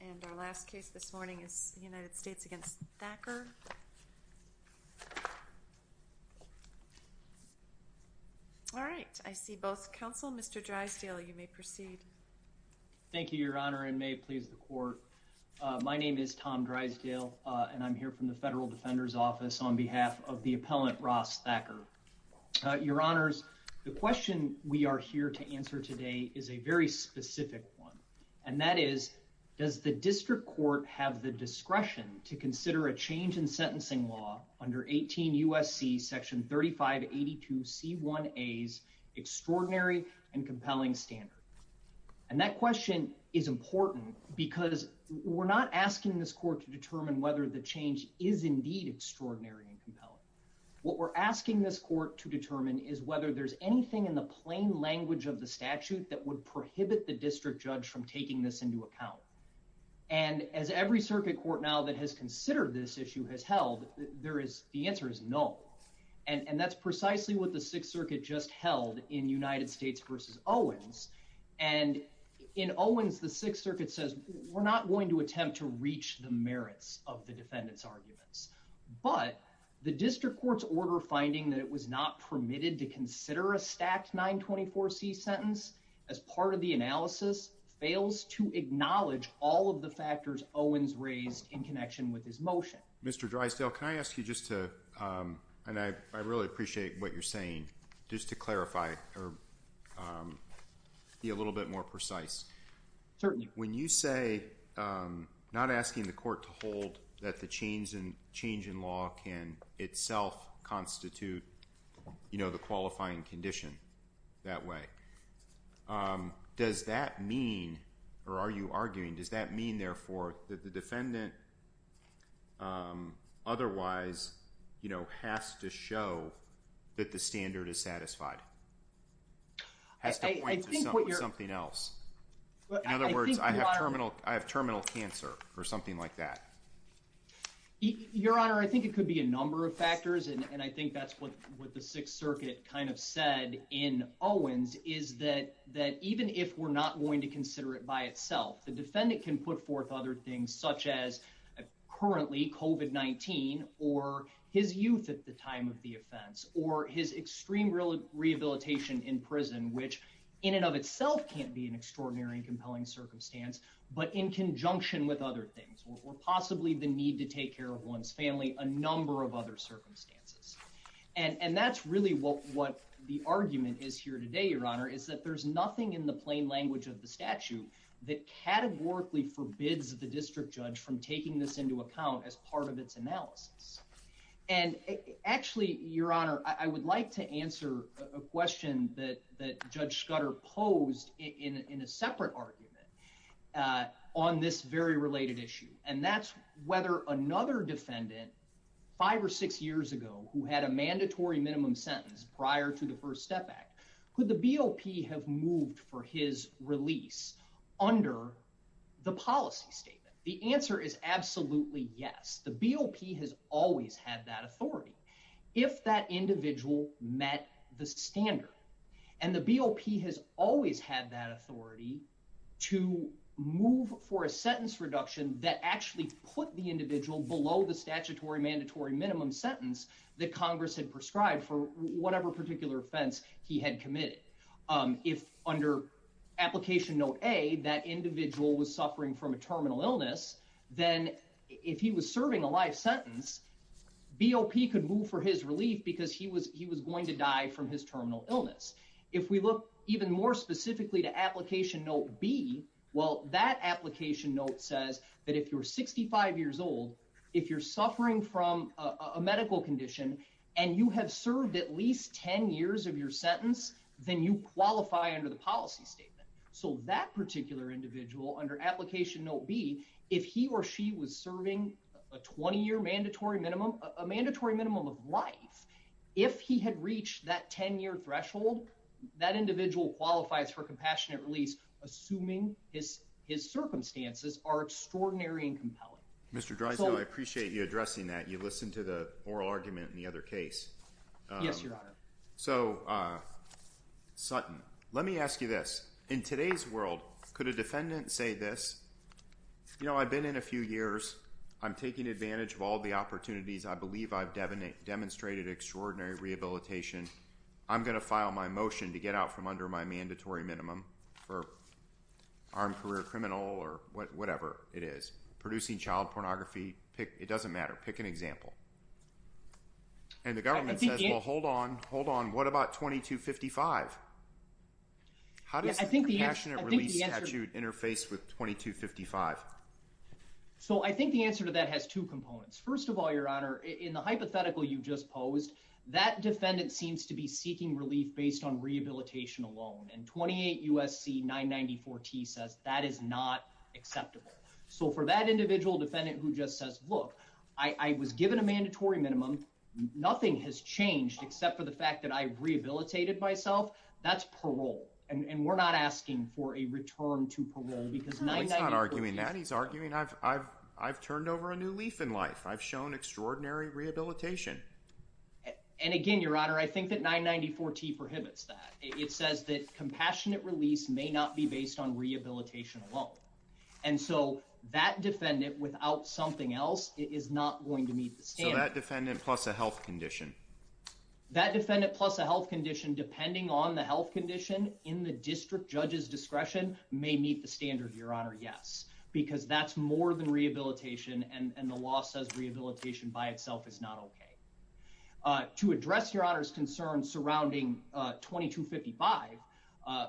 and our last case this morning is the United States against Thacker. All right, I see both counsel. Mr. Drysdale, you may proceed. Thank you, Your Honor, and may it please the court. My name is Tom Drysdale and I'm here from the Federal Defender's Office on behalf of the appellant Ross Thacker. Your Honors, the question we are here to answer today is a very specific one, and that is, does the district court have the discretion to consider a change in sentencing law under 18 U.S.C. section 3582c1a's extraordinary and compelling standard? And that question is important because we're not asking this court to determine whether the change is indeed extraordinary and compelling. What we're asking this court to determine is whether there's anything in the plain language of the statute that would prohibit the district judge from taking this into account. And as every circuit court now that has considered this issue has held, the answer is no. And that's precisely what the Sixth Circuit just held in United States v. Owens. And in Owens, the Sixth Circuit says, we're not going to attempt to reach the merits of the defendant's arguments. But the district court's order finding that it was not permitted to consider a stacked 924c sentence as part of the analysis fails to acknowledge all of the factors Owens raised in connection with his motion. Mr. Drysdale, can I ask you just to, and I really appreciate what you're saying, just to clarify or be a little bit more precise. Certainly. When you say, not asking the court to hold that the change in law can itself constitute the qualifying condition that way. Does that mean, or are you arguing, does that mean therefore that the defendant otherwise has to show that the standard is satisfied? Has to point to something else? In other words, I have terminal cancer or something like that. Your Honor, I think it could be a number of factors. And I think that's what the Sixth Circuit kind of said in Owens is that even if we're not going to consider it by itself, the defendant can put forth other things such as currently COVID-19 or his youth at the time of his extreme rehabilitation in prison, which in and of itself can't be an extraordinary and compelling circumstance, but in conjunction with other things, or possibly the need to take care of one's family, a number of other circumstances. And that's really what the argument is here today, Your Honor, is that there's nothing in the plain language of the statute that categorically forbids the district judge from taking this into account as part of its analysis. And actually, Your Honor, I would like to answer a question that Judge Scudder posed in a separate argument on this very related issue, and that's whether another defendant five or six years ago who had a mandatory minimum sentence prior to the First Step Act, could the BOP have moved for his release under the policy statement? The answer is absolutely yes. The BOP has always had that authority if that individual met the standard. And the BOP has always had that authority to move for a sentence reduction that actually put the individual below the statutory mandatory minimum sentence that Congress had prescribed for whatever particular offense he had committed. If under Application Note A, that individual was suffering from a terminal illness, then if he was serving a life sentence, BOP could move for his relief because he was going to die from his terminal illness. If we look even more specifically to Application Note B, well, that application note says that if you're 65 years old, if you're suffering from a medical condition, and you have at least 10 years of your sentence, then you qualify under the policy statement. So that particular individual under Application Note B, if he or she was serving a 20-year mandatory minimum, a mandatory minimum of life, if he had reached that 10-year threshold, that individual qualifies for compassionate release, assuming his circumstances are extraordinary and compelling. Mr. Dreisberg, I appreciate you addressing that. You listened to the oral argument in the other case. Yes, Your Honor. So, Sutton, let me ask you this. In today's world, could a defendant say this, you know, I've been in a few years. I'm taking advantage of all the opportunities. I believe I've demonstrated extraordinary rehabilitation. I'm going to file my motion to get out from under my mandatory minimum for armed career criminal or whatever it is. Producing child pornography, pick, it doesn't matter. Pick an example. And the government says, well, hold on, hold on. What about 2255? How does the compassionate release statute interface with 2255? So I think the answer to that has two components. First of all, Your Honor, in the hypothetical you just posed, that defendant seems to be seeking relief based on rehabilitation alone. And 28 U.S.C. 994-T says that is not acceptable. So for that individual defendant who just says, look, I was given a mandatory minimum. Nothing has changed except for the fact that I've rehabilitated myself. That's parole. And we're not asking for a return to parole because 994-T. He's not arguing that. He's arguing I've turned over a new leaf in life. I've shown extraordinary rehabilitation. And again, Your Honor, I think that 994-T prohibits that. It says that compassionate release may not be based on rehabilitation alone. And so that defendant, without something else, it is not going to meet the standard. So that defendant plus a health condition. That defendant plus a health condition, depending on the health condition in the district judge's discretion, may meet the standard, Your Honor. Yes, because that's more than rehabilitation. And the law says rehabilitation by itself is not OK. To address Your Honor's concern surrounding 2255,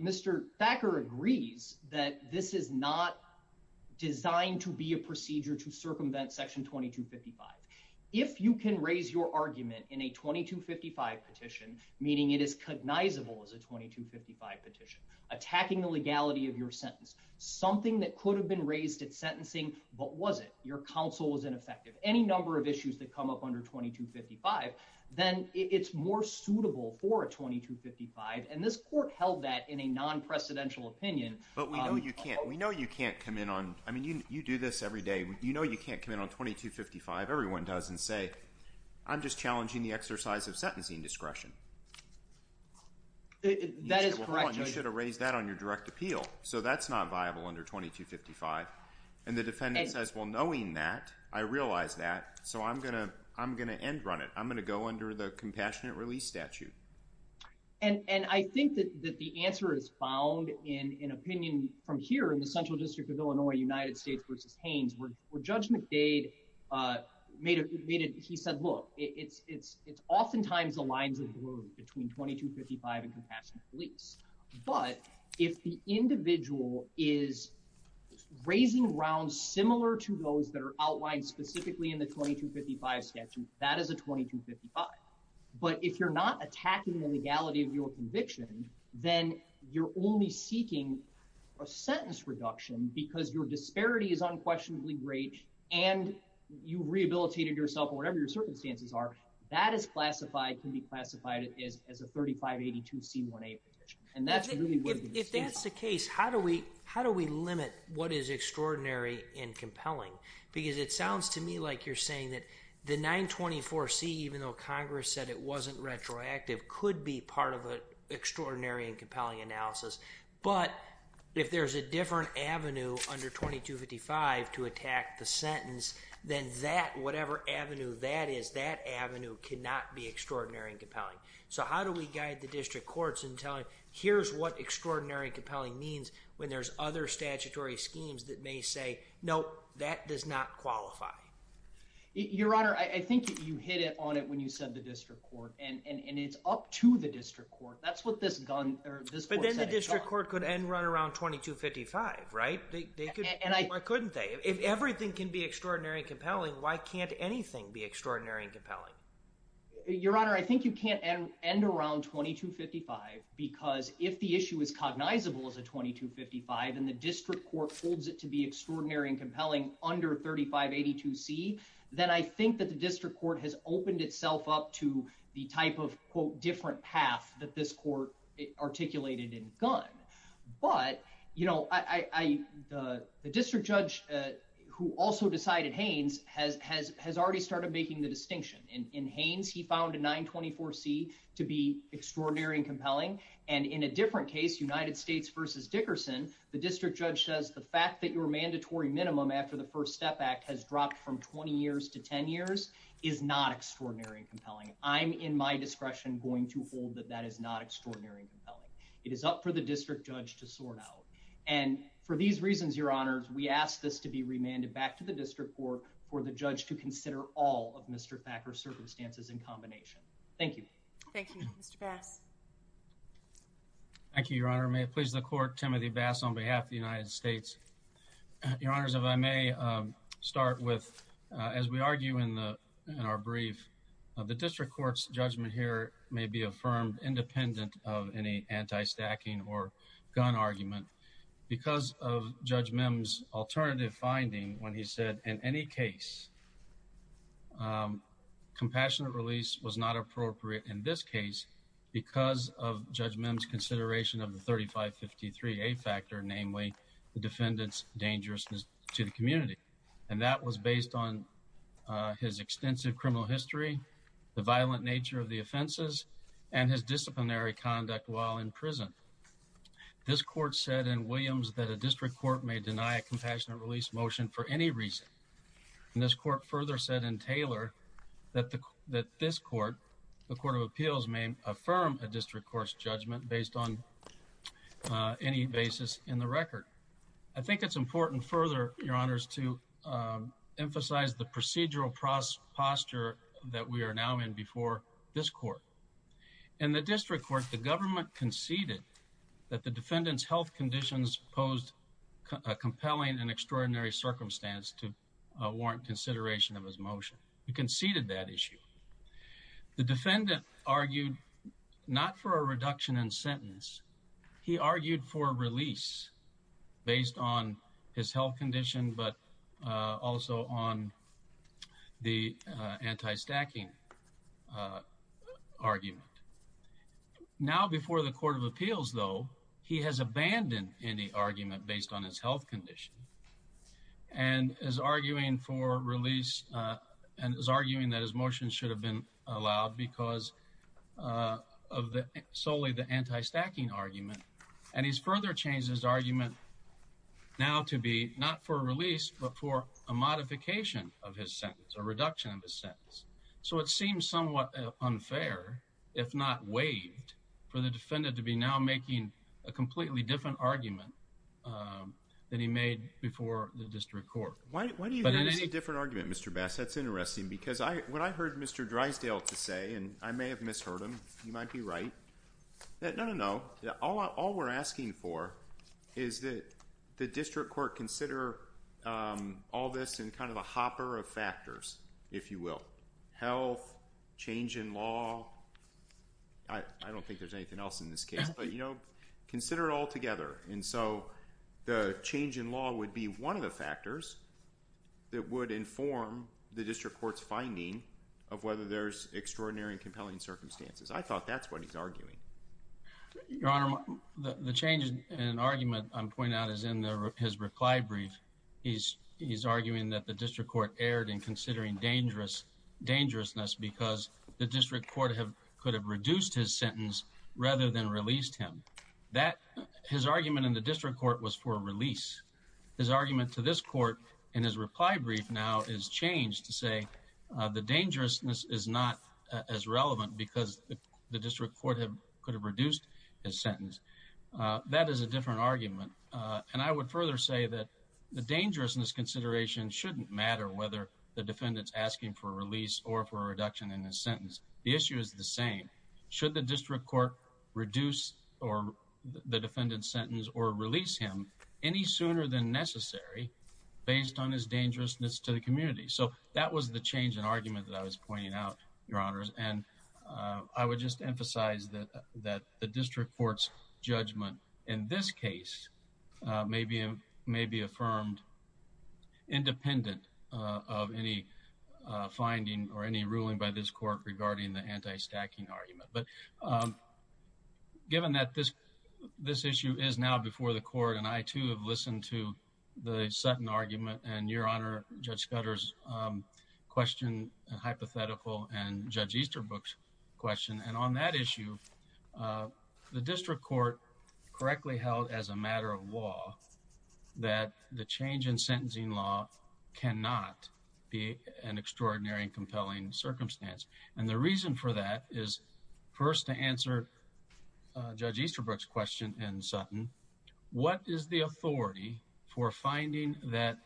Mr. Thacker agrees that this is not designed to be a procedure to circumvent Section 2255. If you can raise your argument in a 2255 petition, meaning it is cognizable as a 2255 petition, attacking the legality of your sentence, something that could have been raised at sentencing, but was it, your counsel was not able to raise it under 2255, then it's more suitable for a 2255. And this court held that in a non-precedential opinion. But we know you can't. We know you can't come in on, I mean, you do this every day. You know you can't come in on 2255. Everyone does and say, I'm just challenging the exercise of sentencing discretion. That is correct, Your Honor. You should have raised that on your direct appeal. So that's not viable under 2255. And the defendant says, well, knowing that, I realize that. So I'm going to end run it. I'm going to go under the compassionate release statute. And I think that the answer is found in an opinion from here in the Central District of Illinois, United States v. Haynes, where Judge McDade made it, he said, look, it's oftentimes the lines of the road between 2255 and compassionate release. But if the individual is raising grounds similar to those that are outlined specifically in the 2255 statute, that is a 2255. But if you're not attacking the legality of your conviction, then you're only seeking a sentence reduction because your disparity is unquestionably great and you've rehabilitated yourself or whatever your circumstances are, that is classified, can be classified as a 3582C1A provision. And that's really what it is. If that's the case, how do we limit what is extraordinary and compelling? Because it sounds to me like you're saying that the 924C, even though Congress said it wasn't retroactive, could be part of an extraordinary and compelling analysis. But if there's a different avenue under 2255 to attack the sentence, then that, whatever avenue that is, that avenue cannot be extraordinary and compelling. So how do we guide the district courts in telling, here's what extraordinary and compelling means when there's other statutory schemes that may say, no, that does not qualify? Your Honor, I think you hit it on it when you said the district court and it's up to the district court. That's what this gun or this court said. But then the district court could end run around 2255, right? Why couldn't they? If everything can be extraordinary and compelling, why can't anything be extraordinary and compelling? Your Honor, I think you can't end around 2255 because if the issue is cognizable as a 2255 and the district court holds it to be extraordinary and compelling under 3582C, then I think that the district court has opened itself up to the type of, quote, different path that this court articulated in gun. But, you know, the district judge who also decided Haynes has already started making the distinction. In Haynes, he found a 924C to be extraordinary and compelling. And in a different case, United States v. Dickerson, the district judge says the fact that your mandatory minimum after the First Step Act has dropped from 20 years to 10 years is not extraordinary and compelling. I'm, in my discretion, going to hold that that is not extraordinary and compelling. It is up for the For these reasons, Your Honors, we ask this to be remanded back to the district court for the judge to consider all of Mr. Thacker's circumstances in combination. Thank you. Thank you, Mr. Bass. Thank you, Your Honor. May it please the court, Timothy Bass on behalf of the United States. Your Honors, if I may start with, as we argue in our brief, the district court's judgment here may be affirmed independent of any anti-stacking or gun argument because of Judge Memm's alternative finding when he said, in any case, compassionate release was not appropriate in this case because of Judge Memm's consideration of the 3553A factor, namely the defendant's dangerousness to the community. And that was based on his extensive criminal history, the violent nature of the offenses, and his disciplinary conduct while in prison. This court said in Williams that a district court may deny a compassionate release motion for any reason. And this court further said in Taylor that this court, the Court of Appeals, may affirm a district court's judgment based on any basis in the record. I think it's important further, Your Honors, to emphasize the procedural posture that we are now in before this court. In the district court, the government conceded that the defendant's health conditions posed a compelling and extraordinary circumstance to warrant consideration of his motion. We conceded that issue. The defendant argued not for a reduction in sentence. He argued for a release based on his health condition, but also on the anti-stacking argument. Now, before the Court of Appeals, though, he has abandoned any argument based on his health condition and is arguing for release and is arguing that his motion should have been a reduction of his sentence. So it seems somewhat unfair, if not waived, for the defendant to be now making a completely different argument than he made before the district court. Why do you think it's a different argument, Mr. Bass? That's interesting because what I heard Mr. Drysdale to say, and I may have misheard him, you might be right, that no, no, no, all we're asking for is that the district court consider all this in kind of a hopper of factors, if you will. Health, change in law, I don't think there's anything else in this case, but you know, consider it all together. And so the change in law would be one of the factors that would inform the district court's finding of whether there's extraordinary and compelling circumstances. I thought that's what he's arguing. Your Honor, the change in argument I'm pointing out is in his reply brief. He's arguing that the district court erred in considering dangerousness because the district court could have reduced his sentence rather than released him. His argument in the district court was for release. His argument to this court in his reply brief now is changed to say the dangerousness is not as relevant because the district court could have reduced his sentence. That is a different argument. And I would further say that the dangerousness consideration shouldn't matter whether the defendant's asking for a release or for a reduction in his sentence. The issue is the same. Should the district court reduce the defendant's sentence or release him any sooner than necessary based on his dangerousness to the community? So that was the change in argument that I was pointing out, Your Honors. And I would just emphasize that the district court's judgment in this case may be affirmed independent of any finding or any ruling by this court regarding the anti-stacking argument. But given that this issue is now before the court, and I too have listened to the Sutton argument, and Your Honor, Judge Scudder's question, hypothetical, and Judge Easterbrook's question, and on that issue, the district court correctly held as a matter of law that the change in sentencing law cannot be an extraordinary and compelling circumstance. And the reason for that is first to answer Judge Easterbrook's question in Sutton, what is the authority for finding that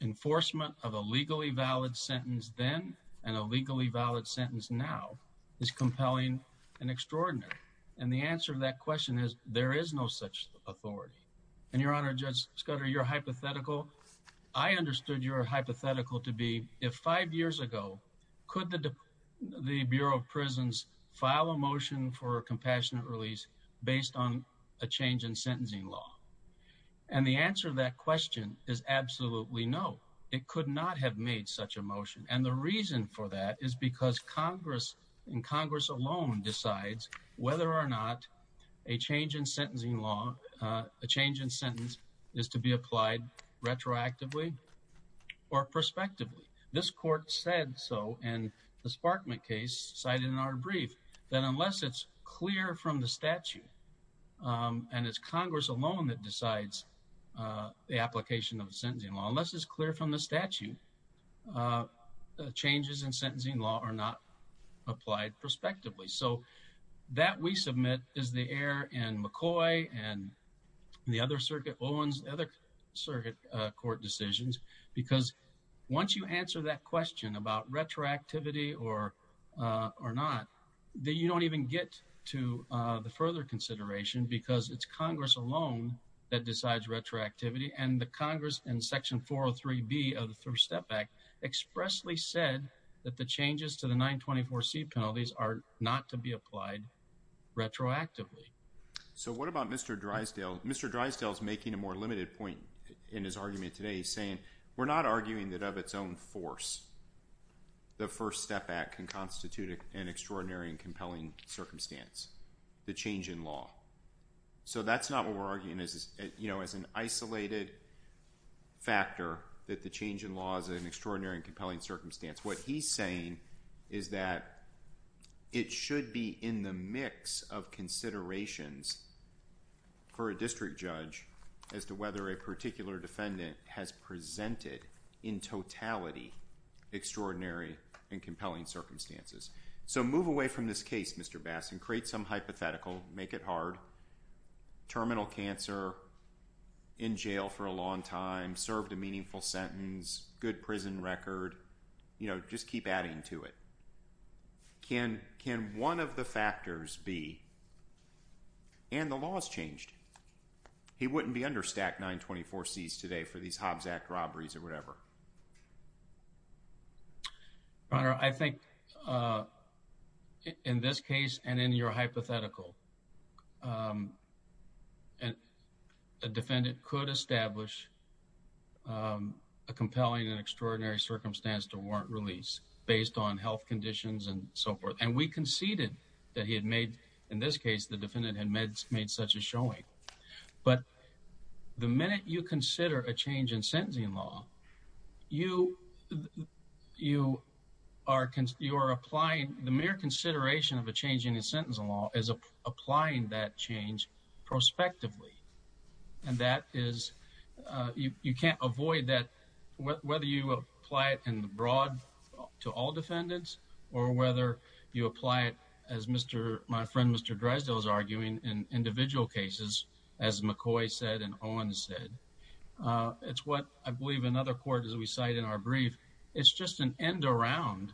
enforcement of a legally valid sentence then and a legally valid sentence now is compelling and extraordinary? And the answer to that question is there is no such authority. And Your Honor, Judge Scudder, your hypothetical, I understood your hypothetical to be if five years ago, could the Bureau of Prisons file a motion for a compassionate release based on a change in sentencing law? Absolutely no. It could not have made such a motion. And the reason for that is because Congress, and Congress alone decides whether or not a change in sentencing law, a change in sentence is to be applied retroactively or prospectively. This court said so in the Sparkman case cited in our brief that unless it's clear from the statute, and it's Congress alone that decides the application of sentencing law, unless it's clear from the statute, changes in sentencing law are not applied prospectively. So that we submit is the error in McCoy and the other circuit, Owen's other circuit court decisions, because once you answer that question about retroactivity or not, then you don't even get to the further consideration because it's Congress alone that decides retroactivity. And the Congress in section 403B of the First Step Act expressly said that the changes to the 924C penalties are not to be applied retroactively. So what about Mr. Drysdale? Mr. Drysdale is making a more limited point in his argument today, saying we're not arguing that of its own force, the First Step Act can constitute an extraordinary and compelling circumstance, the change in law. So that's not what we're arguing as an isolated factor that the change in law is an extraordinary and compelling circumstance. What he's saying is that it should be in the mix of considerations for a district judge as to whether a particular defendant has presented in totality extraordinary and compelling circumstances. So move away from this case, Mr. Bass, and create some hypothetical, make it hard. Terminal cancer, in jail for a long time, served a meaningful sentence, good prison record, you know, just keep adding to it. Can one of the factors be, and the law has changed, he wouldn't be under stack 924Cs today for these Hobbs Act robberies or whatever. Your Honor, I think in this case and in your hypothetical, a defendant could establish a compelling and extraordinary circumstance to warrant release based on health conditions and so forth. And we conceded that he had made, in this case, the defendant had made such a showing. But the minute you consider a change in sentencing law, you are applying, the mere consideration of a change in the sentencing law is applying that change prospectively. And that is, you can't avoid that, whether you apply it in the broad to all defendants or whether you apply it, as my friend Mr. Drysdale is arguing, in individual cases as McCoy said and Owen said. It's what I believe another court, as we cite in our brief, it's just an end around,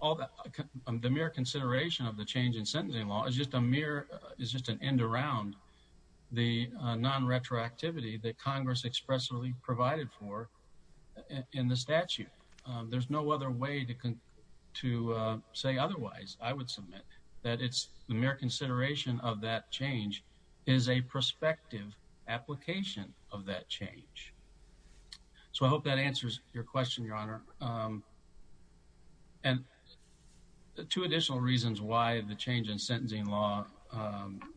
the mere consideration of the change in sentencing law is just an end around the non-retroactivity that Congress expressly provided for in the statute. There's no other way to say otherwise, I would submit, that it's the mere consideration of that change is a prospective application of that change. So I hope that answers your question, Your Honor. And two additional reasons why the change in sentencing law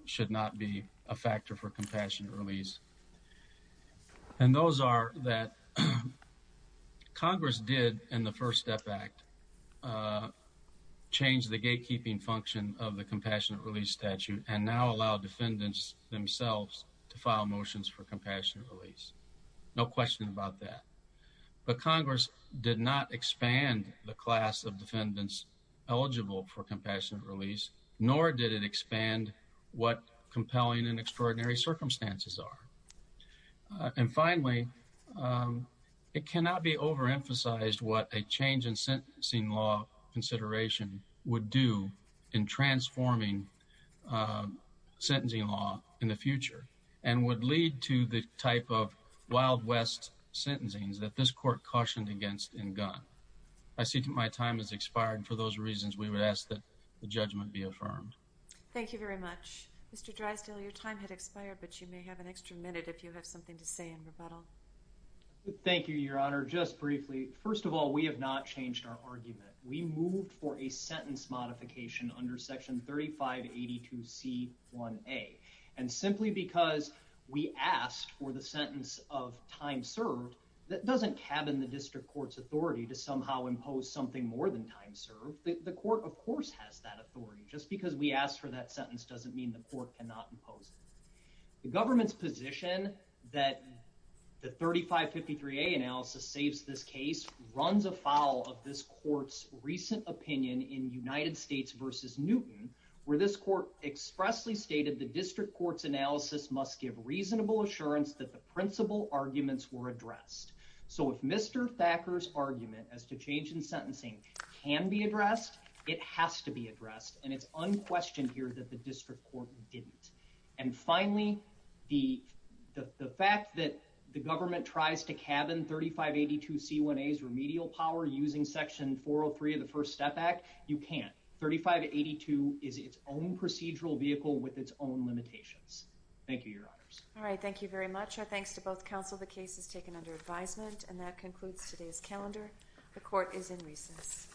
should not be a factor for compassionate release. And those are that Congress did, in the First Step Act, change the gatekeeping function of the compassionate release statute and now allow defendants themselves to file motions for compassionate release. No question about that. But Congress did not expand the class of defendants eligible for compassionate release, nor did it expand what compelling and extraordinary circumstances are. And finally, it cannot be overemphasized what a change in sentencing law consideration would do in transforming sentencing law in the future and would lead to the type of Wild West sentencings that this court cautioned against in Gunn. I see that my time has expired. For those reasons, we would ask that the judgment be affirmed. Thank you very much. Mr. Drysdale, your time had expired, but you may have an extra minute if you have something to say in rebuttal. Thank you, Your Honor. Just briefly, first of all, we have not changed our argument. We moved for a sentence modification under Section 3582C1A. And simply because we asked for the sentence of time served, that doesn't cabin the district court's authority to somehow impose something more than time served. The court, of course, has that authority. Just because we asked for that sentence doesn't mean the court cannot impose it. The government's position that the 3553A analysis saves this case runs afoul of this court's recent opinion in United States v. Newton, where this court expressly stated the district court's analysis must give reasonable assurance that the principal arguments were addressed. So if Mr. Thacker's argument as to change in sentencing can be addressed, it has to be addressed. And it's unquestioned here that the district court didn't. And finally, the fact that the government tries to cabin 3582C1A's remedial power using Section 403 of the First Step Act, you can't. 3582 is its own procedural vehicle with its own limitations. Thank you, Your Honors. All right, thank you very much. Our thanks to both counsel. The case is taken under advisement and that concludes today's calendar. The court is in recess.